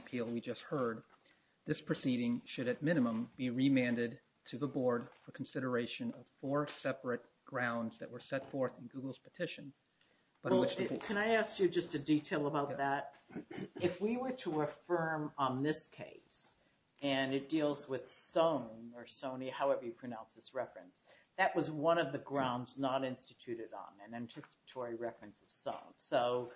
appeal we just heard, this proceeding should at minimum be remanded to the board for consideration of four separate grounds that were set forth in Google's petition. Can I ask you just a detail about that? If we were to affirm on this case, and it deals with Soane or Sony, however you pronounce this reference, that was one of the grounds not instituted on an anticipatory reference of Soane. So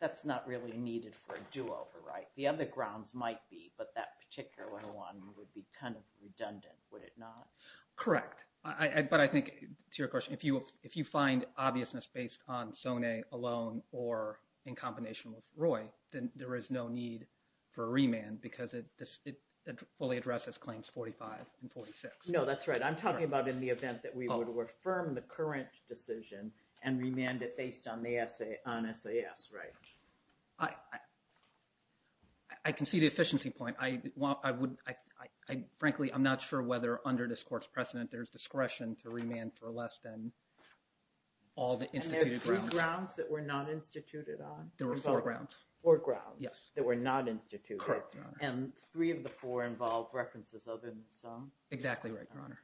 that's not really needed for a do-over, right? The other grounds might be, but that particular one would be kind of redundant, would it not? Correct. But I think, to your question, if you find obviousness based on Soane alone or in combination with Roy, then there is no need for a remand because it fully addresses claims 45 and 46. No, that's right. I'm talking about in the event that we were to affirm the current decision and remand it based on SAS, right? I can see the efficiency point. Frankly, I'm not sure whether under this court's precedent there's discretion to remand for less than all the instituted grounds. And there are three grounds that were not instituted on? There were four grounds. Four grounds that were not instituted. Correct. And three of the four involved references other than Soane? Exactly right, Your Honor.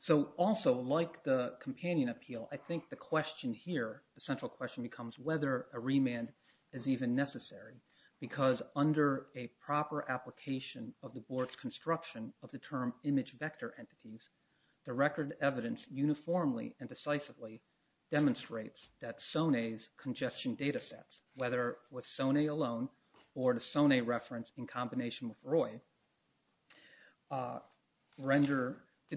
So also, like the companion appeal, I think the question here, the central question, becomes whether a remand is even necessary. Because under a proper application of the board's construction of the term image vector entities, the record evidence uniformly and decisively demonstrates that Soane's congestion data sets, whether with Soane alone or the Soane reference in combination with Roy,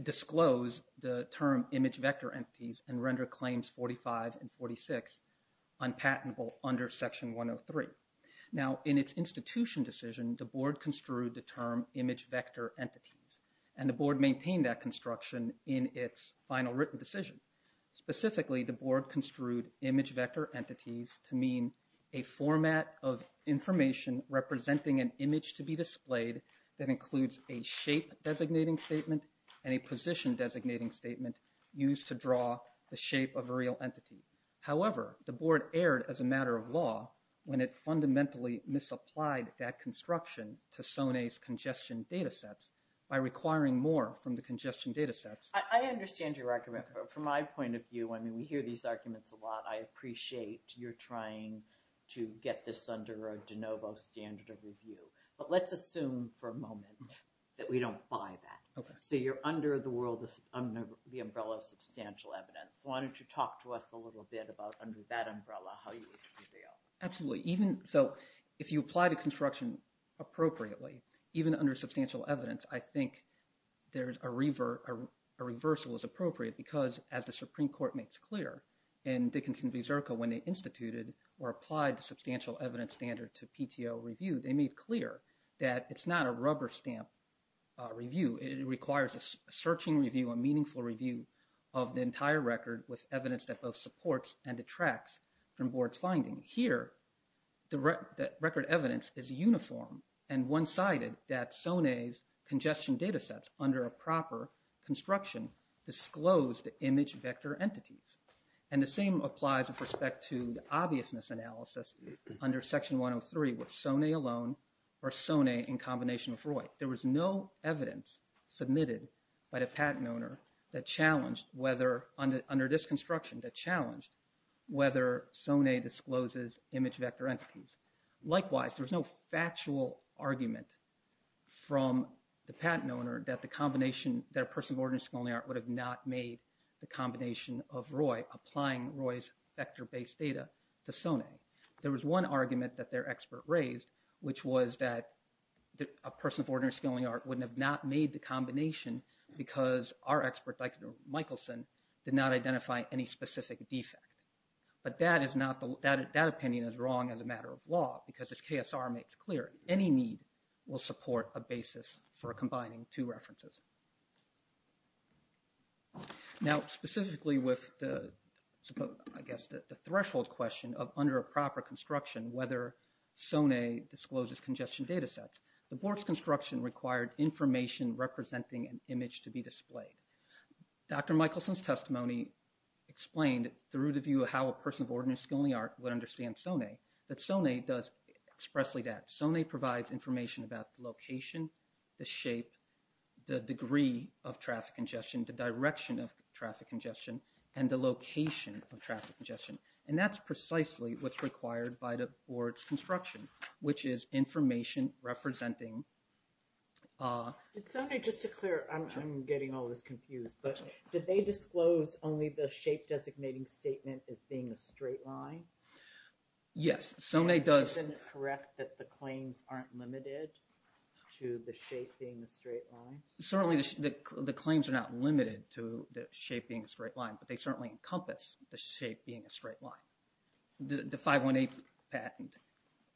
disclose the term image vector entities and render claims 45 and 46 unpatentable under Section 103. Now, in its institution decision, the board construed the term image vector entities, and the board maintained that construction in its final written decision. Specifically, the board construed image vector entities to mean a format of information representing an image to be displayed that includes a shape designating statement and a position designating statement used to draw the shape of a real entity. However, the board erred as a matter of law when it fundamentally misapplied that construction to Soane's congestion data sets by requiring more from the congestion data sets. I understand your argument. From my point of view, I mean, we hear these arguments a lot. I appreciate your trying to get this under a de novo standard of review. But let's assume for a moment that we don't buy that. So you're under the umbrella of substantial evidence. Why don't you talk to us a little bit about under that umbrella how you would deal? Absolutely. Even – so if you apply the construction appropriately, even under substantial evidence, I think there's a – a reversal is appropriate because as the Supreme Court makes clear in Dickinson v. Zerka when they instituted or applied the substantial evidence standard to PTO review, they made clear that it's not a rubber stamp review. It requires a searching review, a meaningful review of the entire record with evidence that both supports and detracts from board's finding. Here, the record evidence is uniform and one-sided that Soane's congestion data sets under a proper construction disclose the image vector entities. And the same applies with respect to the obviousness analysis under Section 103 with Soane alone or Soane in combination with Roy. There was no evidence submitted by the patent owner that challenged whether – under this construction that challenged whether Soane discloses image vector entities. Likewise, there was no factual argument from the patent owner that the combination – that a person of ordinary skill and the art would have not made the combination of Roy applying Roy's vector-based data to Soane. There was one argument that their expert raised, which was that a person of ordinary skill and the art wouldn't have not made the combination because our expert, Michaelson, did not identify any specific defect. But that is not – that opinion is wrong as a matter of law because as KSR makes clear, any need will support a basis for combining two references. Now, specifically with the – I guess the threshold question of under a proper construction whether Soane discloses congestion data sets, the board's construction required information representing an image to be displayed. Dr. Michelson's testimony explained through the view of how a person of ordinary skill and the art would understand Soane that Soane does expressly that. Soane provides information about the location, the shape, the degree of traffic congestion, the direction of traffic congestion, and the location of traffic congestion. And that's precisely what's required by the board's construction, which is information representing – Did Soane just declare – I'm getting all this confused, but did they disclose only the shape-designating statement as being a straight line? Yes, Soane does – Isn't it correct that the claims aren't limited to the shape being a straight line? Certainly, the claims are not limited to the shape being a straight line, but they certainly encompass the shape being a straight line. The 518 patent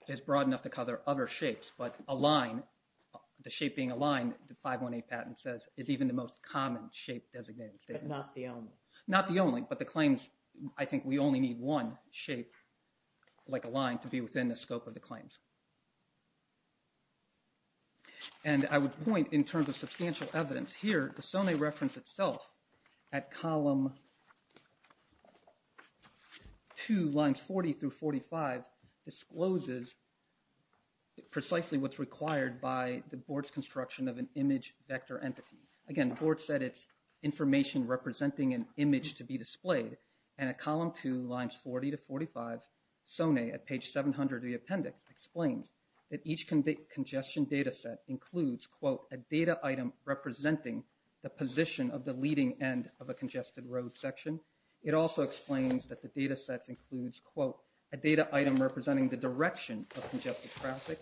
is broad enough to cover other shapes, but a line – the shape being a line, the 518 patent says, is even the most common shape-designating statement. But not the only. Not the only, but the claims – I think we only need one shape, like a line, to be within the scope of the claims. And I would point, in terms of substantial evidence here, the Soane reference itself at column 2, lines 40 through 45, discloses precisely what's required by the board's construction of an image vector entity. Again, the board said it's information representing an image to be displayed. And at column 2, lines 40 to 45, Soane, at page 700 of the appendix, explains that each congestion data set includes, quote, a data item representing the position of the leading end of a congested road section. It also explains that the data set includes, quote, a data item representing the direction of congested traffic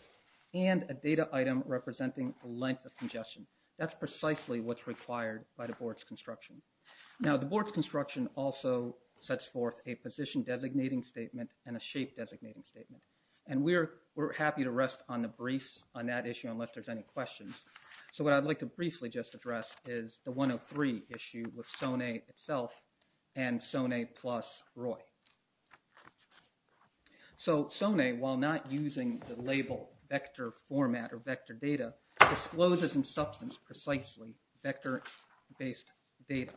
and a data item representing the length of congestion. That's precisely what's required by the board's construction. Now, the board's construction also sets forth a position-designating statement and a shape-designating statement. And we're happy to rest on the briefs on that issue unless there's any questions. So what I'd like to briefly just address is the 103 issue with Soane itself and Soane plus Roy. So Soane, while not using the label vector format or vector data, discloses in substance precisely vector-based data.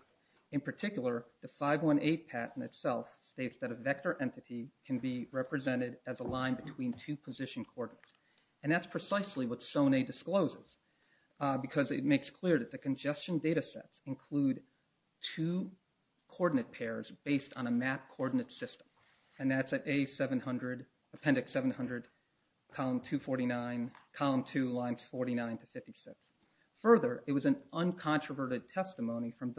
In particular, the 518 patent itself states that a vector entity can be represented as a line between two position coordinates. And that's precisely what Soane discloses because it makes clear that the congestion data sets include two coordinate pairs based on a map coordinate system. And that's at A700, appendix 700, column 249, column 2, lines 49 to 56. Further, it was an uncontroverted testimony from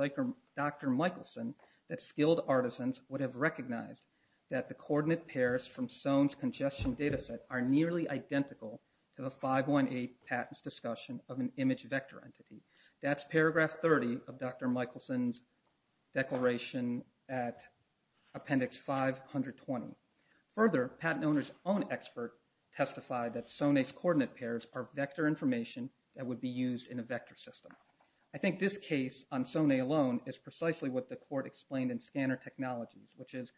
Dr. Michelson that skilled artisans would have recognized that the coordinate pairs from Soane's congestion data set are nearly identical to the 518 patent's discussion of an image vector entity. That's paragraph 30 of Dr. Michelson's declaration at appendix 520. Further, patent owners' own expert testified that Soane's coordinate pairs are vector information that would be used in a vector system. I think this case on Soane alone is precisely what the court explained in scanner technologies, which is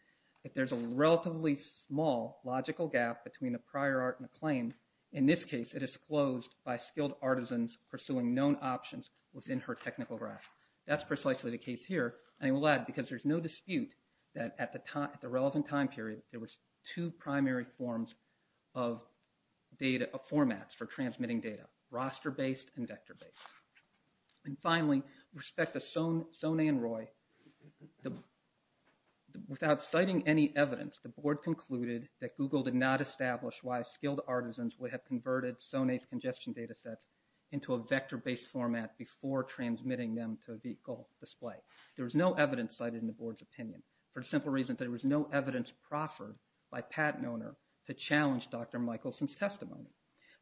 if there's a relatively small logical gap between a prior art and a claim, in this case it is closed by skilled artisans pursuing known options within her technical grasp. That's precisely the case here, and I will add because there's no dispute that at the relevant time period there were two primary forms of formats for transmitting data, roster based and vector based. And finally, with respect to Soane and Roy, without citing any evidence, the board concluded that Google did not establish why skilled artisans would have converted Soane's congestion data sets into a vector based format before transmitting them to the display. There was no evidence cited in the board's opinion for the simple reason that there was no evidence proffered by a patent owner to challenge Dr. Michelson's testimony.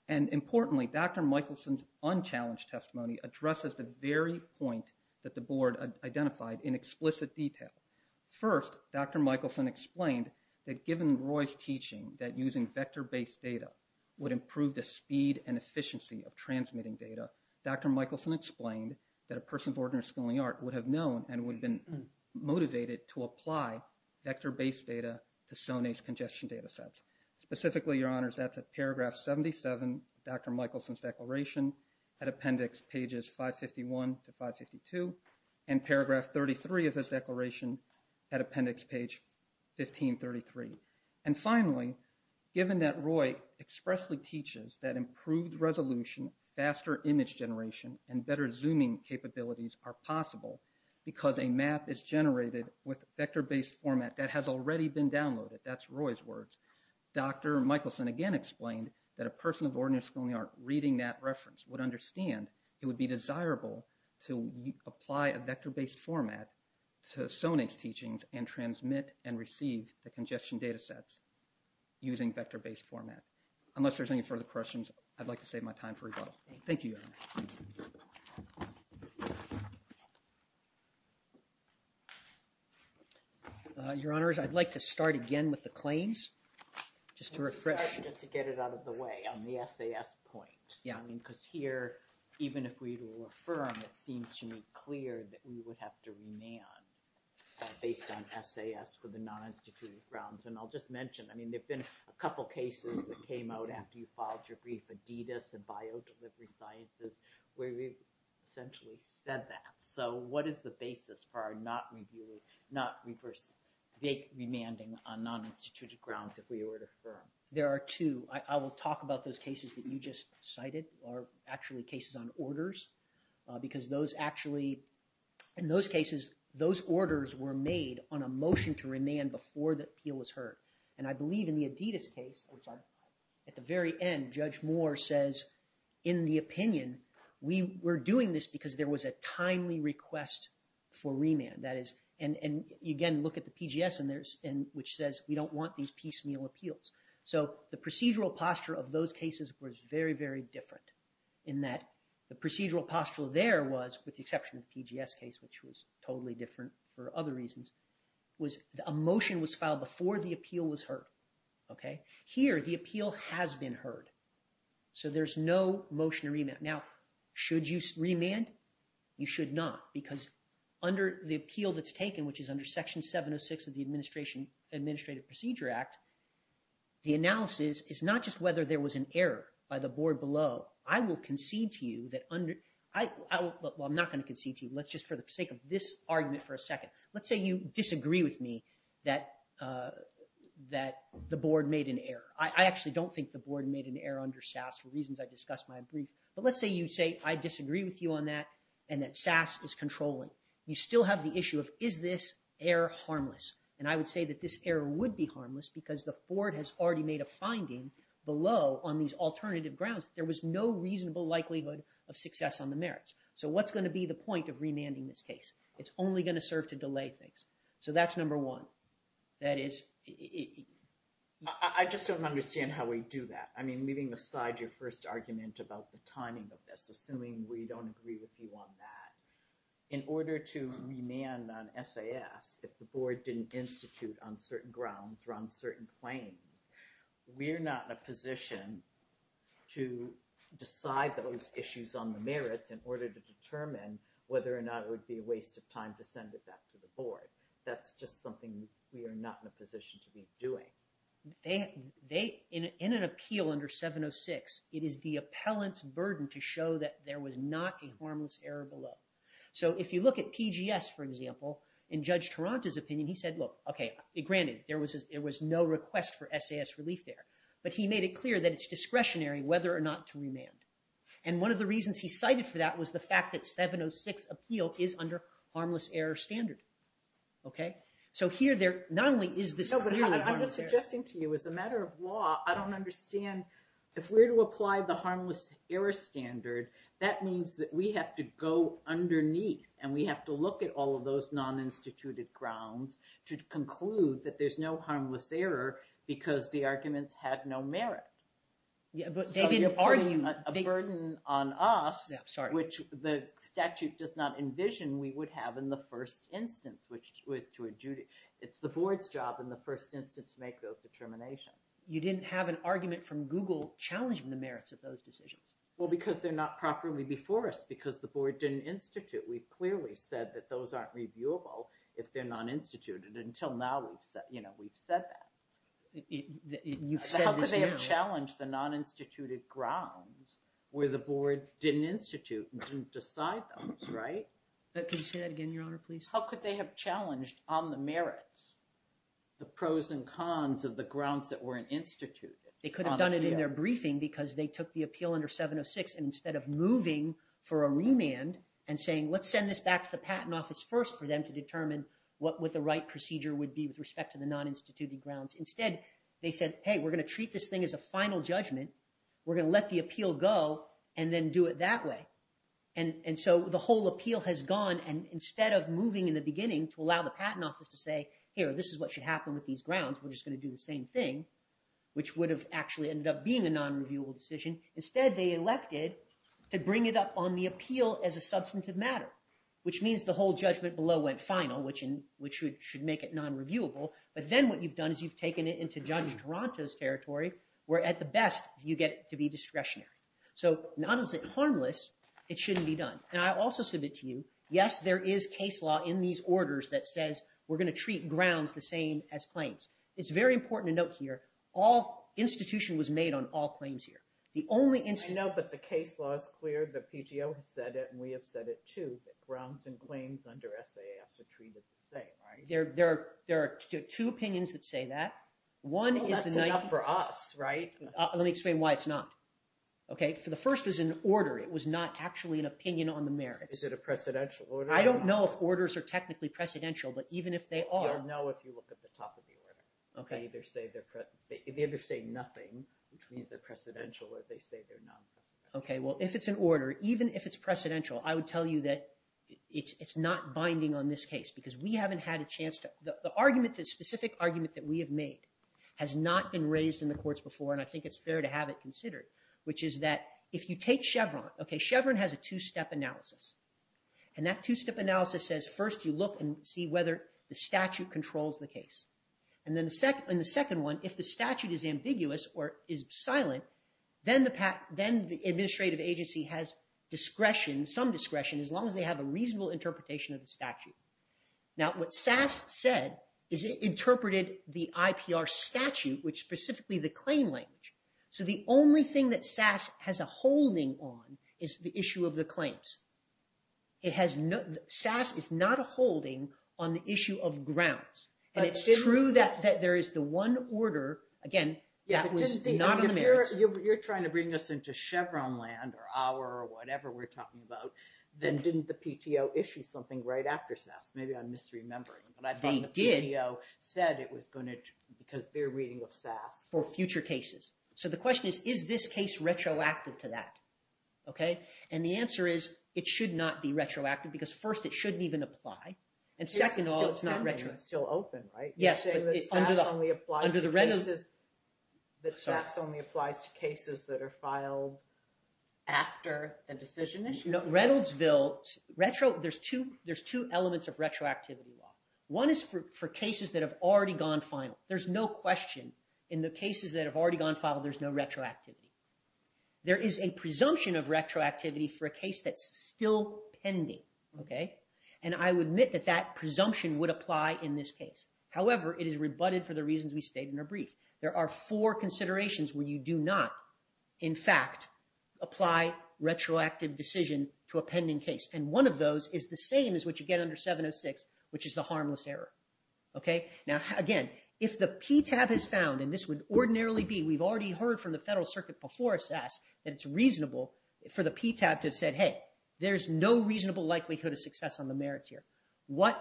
And importantly, Dr. Michelson's unchallenged testimony addresses the very point that the board identified in explicit detail. First, Dr. Michelson explained that given Roy's teaching that using vector based data would improve the speed and efficiency of transmitting data, Dr. Michelson explained that a person of ordinary skilling art would have known and would have been motivated to apply vector based data to Soane's congestion data sets. Specifically, your honors, that's a paragraph 77 of Dr. Michelson's declaration at appendix pages 551 to 552 and paragraph 33 of his declaration at appendix page 1533. And finally, given that Roy expressly teaches that improved resolution, faster image generation, and better zooming capabilities are possible because a map is generated with vector based format that has already been downloaded, that's Roy's words, Dr. Michelson again explained that a person of ordinary skilling art reading that reference would understand it would be desirable to apply a vector based format to Soane's teachings and transmit and receive the congestion data sets using vector based format. Unless there's any further questions, I'd like to save my time for rebuttal. Thank you, your honors. Your honors, I'd like to start again with the claims, just to refresh, just to get it out of the way on the SAS point. Yeah, I mean, because here, even if we will affirm, it seems to me clear that we would have to remain based on SAS for the non instituted grounds. And I'll just mention, I mean, there have been a couple of cases that came out after you filed your brief, Adidas and Bio Delivery Sciences, where we've essentially said that. So what is the basis for our not reviewing, not reverse, vague remanding on non instituted grounds if we were to affirm? There are two. I will talk about those cases that you just cited are actually cases on orders, because those actually, in those cases, those orders were made on a motion to remand before the appeal was heard. And I believe in the Adidas case, at the very end, Judge Moore says, in the opinion, we were doing this because there was a timely request for remand. And again, look at the PGS, which says, we don't want these piecemeal appeals. So the procedural posture of those cases was very, very different in that the procedural posture there was, with the exception of the PGS case, which was totally different for other reasons, was a motion was filed before the appeal was heard. Here, the appeal has been heard. So there's no motion to remand. Now, should you remand? You should not, because under the appeal that's taken, which is under Section 706 of the Administrative Procedure Act, the analysis is not just whether there was an error by the board below. I will concede to you that under—well, I'm not going to concede to you. Let's just, for the sake of this argument for a second, let's say you disagree with me that the board made an error. I actually don't think the board made an error under SAS for reasons I discussed in my brief. But let's say you say, I disagree with you on that, and that SAS is controlling. You still have the issue of, is this error harmless? And I would say that this error would be harmless because the board has already made a finding below on these alternative grounds, there was no reasonable likelihood of success on the merits. So what's going to be the point of remanding this case? It's only going to serve to delay things. So that's number one. That is— I just don't understand how we do that. I mean, leaving aside your first argument about the timing of this, assuming we don't agree with you on that, in order to remand on SAS, if the board didn't institute on certain grounds or on certain claims, we're not in a position to decide those issues on the merits in order to determine whether or not it would be a waste of time to send it back to the board. That's just something we are not in a position to be doing. In an appeal under 706, it is the appellant's burden to show that there was not a harmless error below. So if you look at PGS, for example, in Judge Taranto's opinion, he said, look, okay, granted, there was no request for SAS relief there. So here, there not only is this clearly— No, but I'm just suggesting to you, as a matter of law, I don't understand. If we're to apply the harmless error standard, that means that we have to go underneath and we have to look at all of those non-instituted grounds to conclude that there's no harmless error because the arguments had no merit. Yeah, but they didn't argue— No, sorry. Which the statute does not envision we would have in the first instance, which was to adjudicate. It's the board's job in the first instance to make those determinations. You didn't have an argument from Google challenging the merits of those decisions? Well, because they're not properly before us because the board didn't institute. We've clearly said that those aren't reviewable if they're non-instituted. And until now, we've said that. You've said this before. How could they have challenged the non-instituted grounds where the board didn't institute and didn't decide those, right? Could you say that again, Your Honor, please? How could they have challenged on the merits, the pros and cons of the grounds that weren't instituted? They could have done it in their briefing because they took the appeal under 706. And instead of moving for a remand and saying, let's send this back to the Patent Office first for them to determine what the right procedure would be with respect to the non-instituted grounds. Instead, they said, hey, we're going to treat this thing as a final judgment. We're going to let the appeal go and then do it that way. And so the whole appeal has gone. And instead of moving in the beginning to allow the Patent Office to say, here, this is what should happen with these grounds, we're just going to do the same thing, which would have actually ended up being a non-reviewable decision. Instead, they elected to bring it up on the appeal as a substantive matter, which means the whole judgment below went final, which should make it non-reviewable. But then what you've done is you've taken it into Judge Duranto's territory, where at the best, you get it to be discretionary. So not as harmless, it shouldn't be done. And I also submit to you, yes, there is case law in these orders that says we're going to treat grounds the same as claims. It's very important to note here, all institution was made on all claims here. The only institution— I know, but the case law is clear. The PTO has said it, and we have said it, too, that grounds and claims under SAS are treated the same, right? There are two opinions that say that. Oh, that's enough for us, right? Let me explain why it's not. Okay, the first was an order. It was not actually an opinion on the merits. Is it a precedential order? I don't know if orders are technically precedential, but even if they are— You'll know if you look at the top of the order. Okay. They either say nothing, which means they're precedential, or they say they're not precedential. Okay, well, if it's an order, even if it's precedential, I would tell you that it's not binding on this case because we haven't had a chance to— The specific argument that we have made has not been raised in the courts before, and I think it's fair to have it considered, which is that if you take Chevron— Okay, Chevron has a two-step analysis, and that two-step analysis says first you look and see whether the statute controls the case. And then the second one, if the statute is ambiguous or is silent, then the administrative agency has discretion, some discretion, as long as they have a reasonable interpretation of the statute. Now, what SAS said is it interpreted the IPR statute, which is specifically the claim language. So the only thing that SAS has a holding on is the issue of the claims. SAS is not a holding on the issue of grounds. And it's true that there is the one order, again, that was not on the merits. You're trying to bring us into Chevron land, or our, or whatever we're talking about. Then didn't the PTO issue something right after SAS? Maybe I'm misremembering, but I thought the PTO said it was going to— They did. Because they're reading with SAS. For future cases. So the question is, is this case retroactive to that? And the answer is, it should not be retroactive, because first, it shouldn't even apply. And second of all, it's not retroactive. It's still open, right? Yes. You're saying that SAS only applies to cases that are filed after a decision issue? Reynoldsville, there's two elements of retroactivity law. One is for cases that have already gone final. There's no question in the cases that have already gone final, there's no retroactivity. There is a presumption of retroactivity for a case that's still pending. Okay? And I would admit that that presumption would apply in this case. However, it is rebutted for the reasons we stated in our brief. There are four considerations where you do not, in fact, apply retroactive decision to a pending case. And one of those is the same as what you get under 706, which is the harmless error. Okay? Now, again, if the PTAB has found, and this would ordinarily be— before SAS—that it's reasonable for the PTAB to have said, hey, there's no reasonable likelihood of success on the merits here, what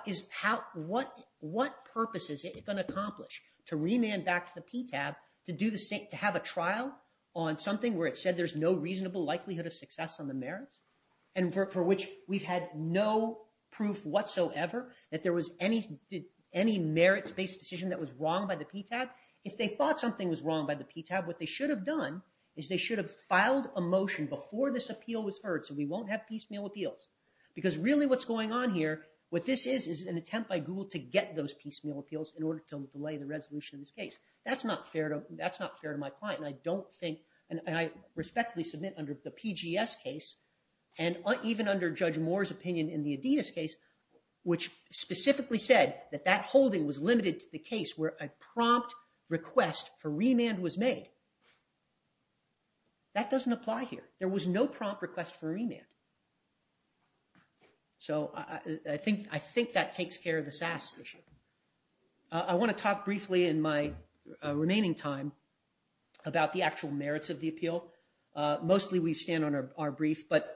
purpose is it going to accomplish to remand back to the PTAB to have a trial on something where it said there's no reasonable likelihood of success on the merits and for which we've had no proof whatsoever that there was any merits-based decision that was wrong by the PTAB? If they thought something was wrong by the PTAB, what they should have done is they should have filed a motion before this appeal was heard so we won't have piecemeal appeals. Because really what's going on here, what this is, is an attempt by Google to get those piecemeal appeals in order to delay the resolution of this case. That's not fair to my client. And I don't think—and I respectfully submit under the PGS case and even under Judge Moore's opinion in the Adidas case, which specifically said that that holding was limited to the case where a prompt request for remand was made. That doesn't apply here. There was no prompt request for remand. So I think that takes care of the SAS issue. I want to talk briefly in my remaining time about the actual merits of the appeal. Mostly we stand on our brief, but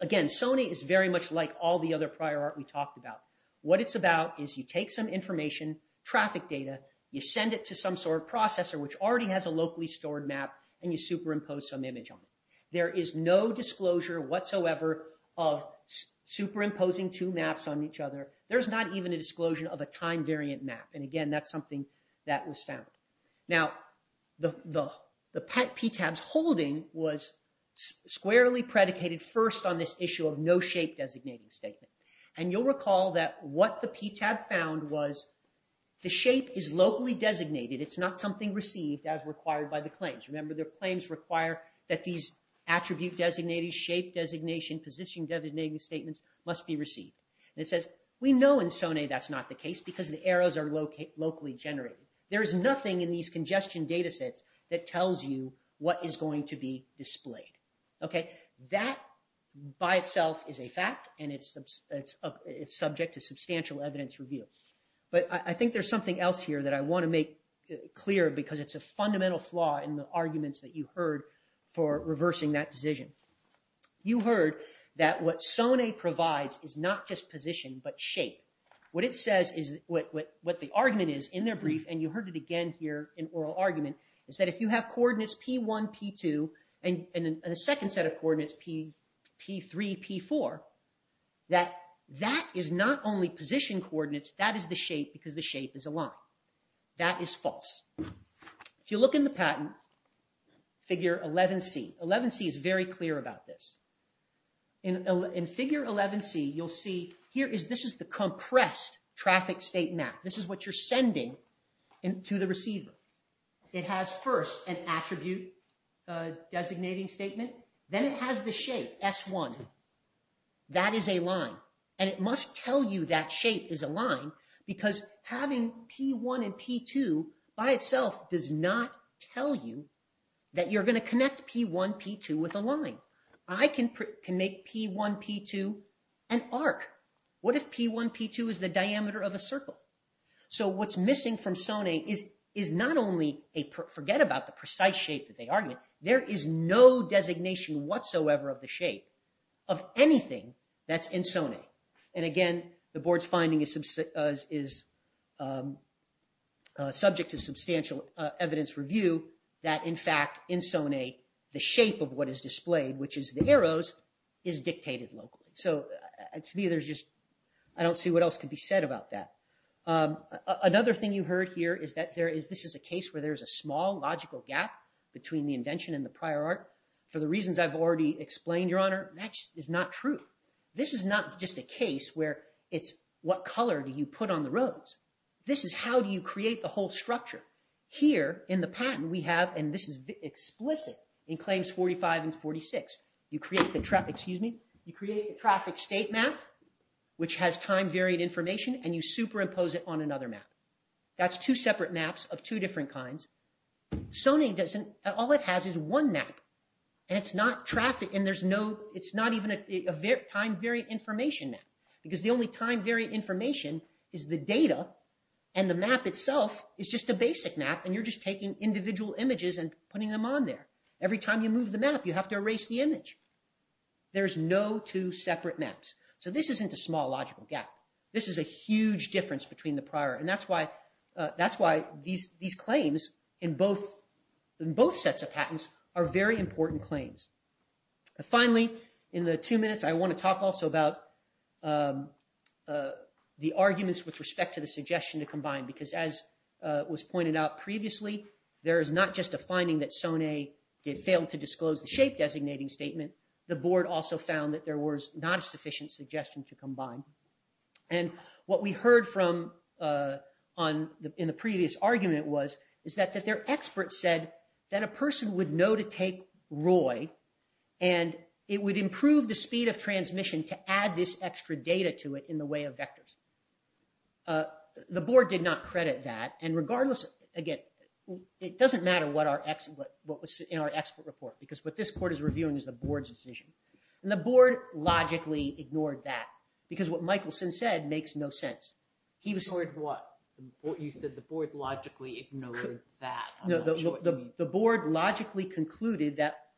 again, Sony is very much like all the other prior art we talked about. What it's about is you take some information, traffic data, you send it to some sort of processor which already has a locally stored map, and you superimpose some image on it. There is no disclosure whatsoever of superimposing two maps on each other. There's not even a disclosure of a time-variant map. And again, that's something that was found. Now, the PTAB's holding was squarely predicated first on this issue of no shape designating statement. And you'll recall that what the PTAB found was the shape is locally designated. It's not something received as required by the claims. Remember, the claims require that these attribute designated, shape designation, position designating statements must be received. And it says, we know in Sony that's not the case because the arrows are locally generated. There is nothing in these congestion datasets that tells you what is going to be displayed. That by itself is a fact, and it's subject to substantial evidence review. But I think there's something else here that I want to make clear, because it's a fundamental flaw in the arguments that you heard for reversing that decision. You heard that what Sony provides is not just position, but shape. What it says is, what the argument is in their brief, and you heard it again here in oral argument, is that if you have coordinates P1, P2, and a second set of coordinates P3, P4, that that is not only position coordinates, that is the shape because the shape is a line. That is false. If you look in the patent, figure 11C, 11C is very clear about this. In figure 11C, you'll see here is this is the compressed traffic state map. This is what you're sending to the receiver. It has first an attribute designating statement. Then it has the shape, S1. That is a line, and it must tell you that shape is a line, because having P1 and P2 by itself does not tell you that you're going to connect P1, P2 with a line. I can make P1, P2 an arc. What if P1, P2 is the diameter of a circle? What's missing from Sony is not only, forget about the precise shape that they argument, there is no designation whatsoever of the shape of anything that's in Sony. Again, the board's finding is subject to substantial evidence review that, in fact, in Sony, the shape of what is displayed, which is the arrows, is dictated locally. To me, I don't see what else could be said about that. Another thing you heard here is that this is a case where there is a small logical gap between the invention and the prior art. For the reasons I've already explained, Your Honor, that is not true. This is not just a case where it's what color do you put on the roads. This is how do you create the whole structure. Here, in the patent, we have, and this is explicit in Claims 45 and 46, you create the traffic state map, which has time-variant information, and you superimpose it on another map. That's two separate maps of two different kinds. All it has is one map, and it's not even a time-variant information map, because the only time-variant information is the data, and the map itself is just a basic map, and you're just taking individual images and putting them on there. Every time you move the map, you have to erase the image. There's no two separate maps. So this isn't a small logical gap. This is a huge difference between the prior, and that's why these claims in both sets of patents are very important claims. Finally, in the two minutes, I want to talk also about the arguments with respect to the suggestion to combine, because as was pointed out previously, there is not just a finding that SONE failed to disclose the shape-designating statement. The board also found that there was not a sufficient suggestion to combine. And what we heard from in the previous argument was that their expert said that a person would know to take Roy, and it would improve the speed of transmission to add this extra data to it in the way of vectors. The board did not credit that. And regardless, again, it doesn't matter what was in our expert report, because what this court is reviewing is the board's decision. And the board logically ignored that, because what Michelson said makes no sense. Ignored what? You said the board logically ignored that. The board logically concluded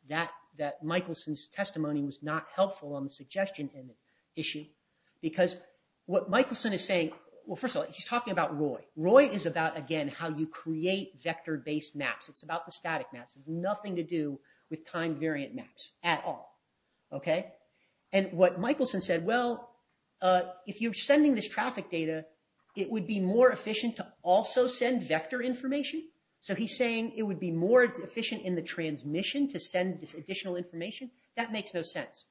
that Michelson's testimony was not helpful on the suggestion issue, because what Michelson is saying... Well, first of all, he's talking about Roy. Roy is about, again, how you create vector-based maps. It's about the static maps. It has nothing to do with time-variant maps at all. And what Michelson said, well, if you're sending this traffic data, it would be more efficient to also send vector information. So he's saying it would be more efficient in the transmission to send this additional information. That makes no sense.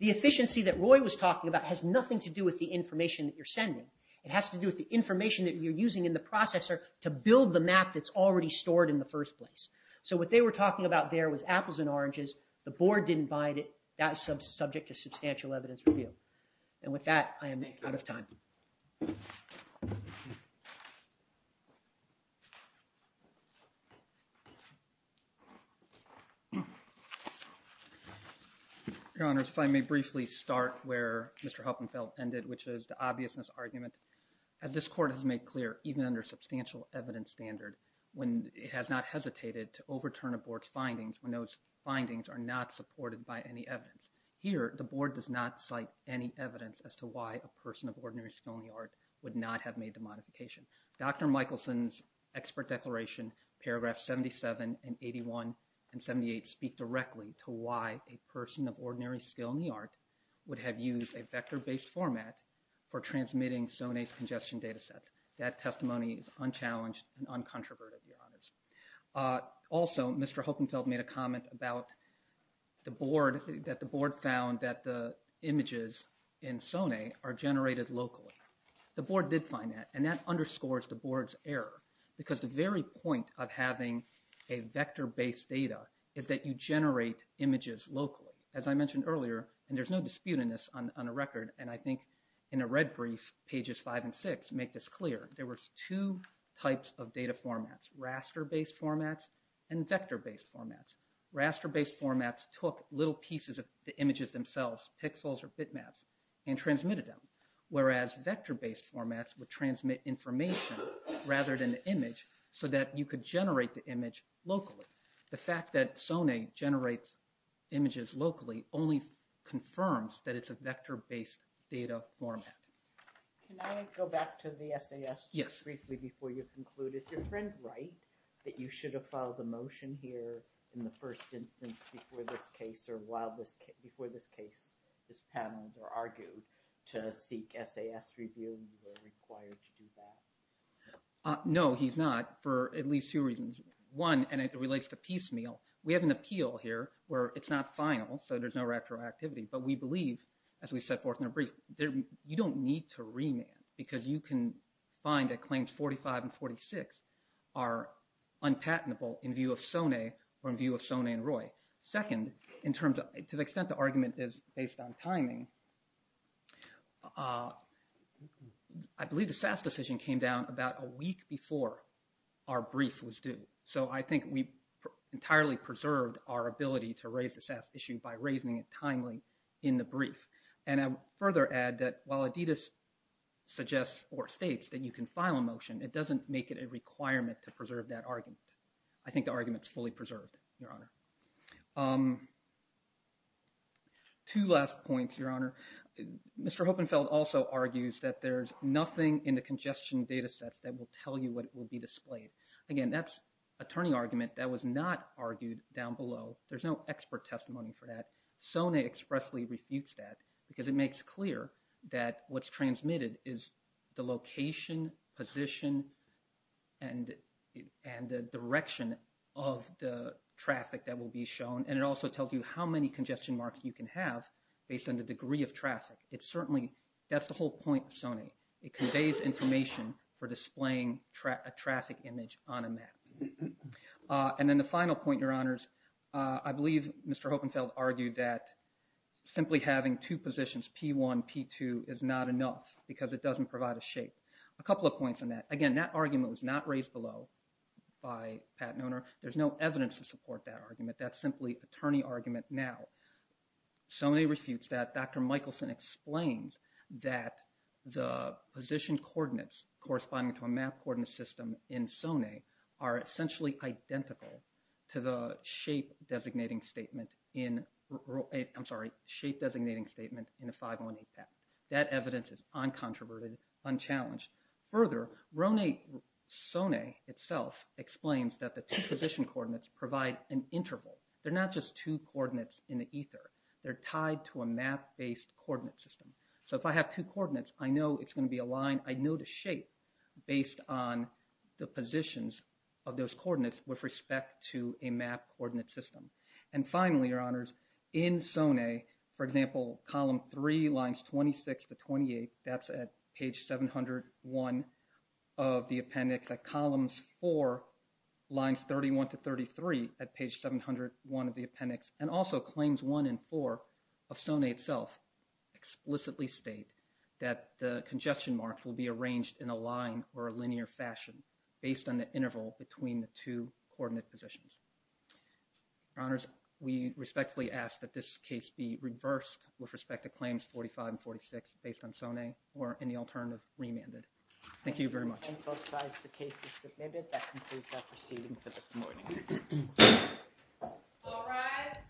The efficiency that Roy was talking about has nothing to do with the information that you're sending. It has to do with the information that you're using in the processor to build the map that's already stored in the first place. So what they were talking about there was apples and oranges. The board didn't buy it. That's subject to substantial evidence review. And with that, I am out of time. Thank you. Your Honors, if I may briefly start where Mr. Huppenfeld ended, which is the obviousness argument. As this court has made clear, even under substantial evidence standard, it has not hesitated to overturn a board's findings when those findings are not supported by any evidence. Here, the board does not cite any evidence as to why a person of ordinary skill in the art would not have made the modification. Dr. Michelson's expert declaration, paragraphs 77 and 81 and 78, speak directly to why a person of ordinary skill in the art would have used a vector-based format for transmitting SONE's congestion data sets. That testimony is unchallenged and uncontroverted, Your Honors. Also, Mr. Huppenfeld made a comment about the board, that the board found that the images in SONE are generated locally. The board did find that, and that underscores the board's error, because the very point of having a vector-based data is that you generate images locally. As I mentioned earlier, and there's no dispute in this on the record, and I think in a red brief, pages 5 and 6 make this clear, there were two types of data formats, raster-based formats and vector-based formats. Raster-based formats took little pieces of the images themselves, pixels or bitmaps, and transmitted them, whereas vector-based formats would transmit information rather than the image, so that you could generate the image locally. The fact that SONE generates images locally only confirms that it's a vector-based data format. Can I go back to the SAS briefly before you conclude? Is your friend right that you should have filed a motion here in the first instance before this case or while this case, before this panel were argued to seek SAS review, you were required to do that? No, he's not, for at least two reasons. One, and it relates to piecemeal. We have an appeal here where it's not final, so there's no retroactivity, but we believe, as we set forth in the brief, you don't need to remand, because you can find that claims 45 and 46 are unpatentable in view of SONE or in view of SONE and Roy. Second, to the extent the argument is based on timing, I believe the SAS decision came down about a week before our brief was due, so I think we entirely preserved our ability to raise the SAS issue by raising it timely in the brief. And I would further add that while Adidas suggests or states that you can file a motion, it doesn't make it a requirement to preserve that argument. I think the argument is fully preserved, Your Honor. Two last points, Your Honor. Mr. Hopenfeld also argues that there's nothing in the congestion data sets that will tell you what will be displayed. Again, that's a turning argument that was not argued down below. There's no expert testimony for that. SONE expressly refutes that, because it makes clear that what's transmitted is the location, position, and the direction of the traffic that will be shown, and it also tells you how many congestion marks you can have based on the degree of traffic. That's the whole point of SONE. It conveys information for displaying a traffic image on a map. And then the final point, Your Honors, I believe Mr. Hopenfeld argued that simply having two positions, P1, P2, is not enough because it doesn't provide a shape. A couple of points on that. Again, that argument was not raised below by Pat Noehner. There's no evidence to support that argument. That's simply a turning argument now. SONE refutes that. Dr. Michelson explains that the position coordinates corresponding to a map coordinate system in SONE are essentially identical to the shape designating statement in 518PAT. That evidence is uncontroverted, unchallenged. Further, SONE itself explains that the two position coordinates provide an interval. They're not just two coordinates in the ether. They're tied to a map-based coordinate system. So if I have two coordinates, I know it's going to be aligned. I know the shape based on the positions of those coordinates with respect to a map coordinate system. And finally, Your Honors, in SONE, for example, column 3, lines 26 to 28, that's at page 701 of the appendix. At columns 4, lines 31 to 33 at page 701 of the appendix, and also claims 1 and 4 of SONE itself, explicitly state that the congestion marks will be arranged in a line or a linear fashion based on the interval between the two coordinate positions. Your Honors, we respectfully ask that this case be reversed with respect to claims 45 and 46 based on SONE or any alternative remanded. Thank you very much. And both sides, the case is submitted. That concludes our proceeding for this morning. All rise.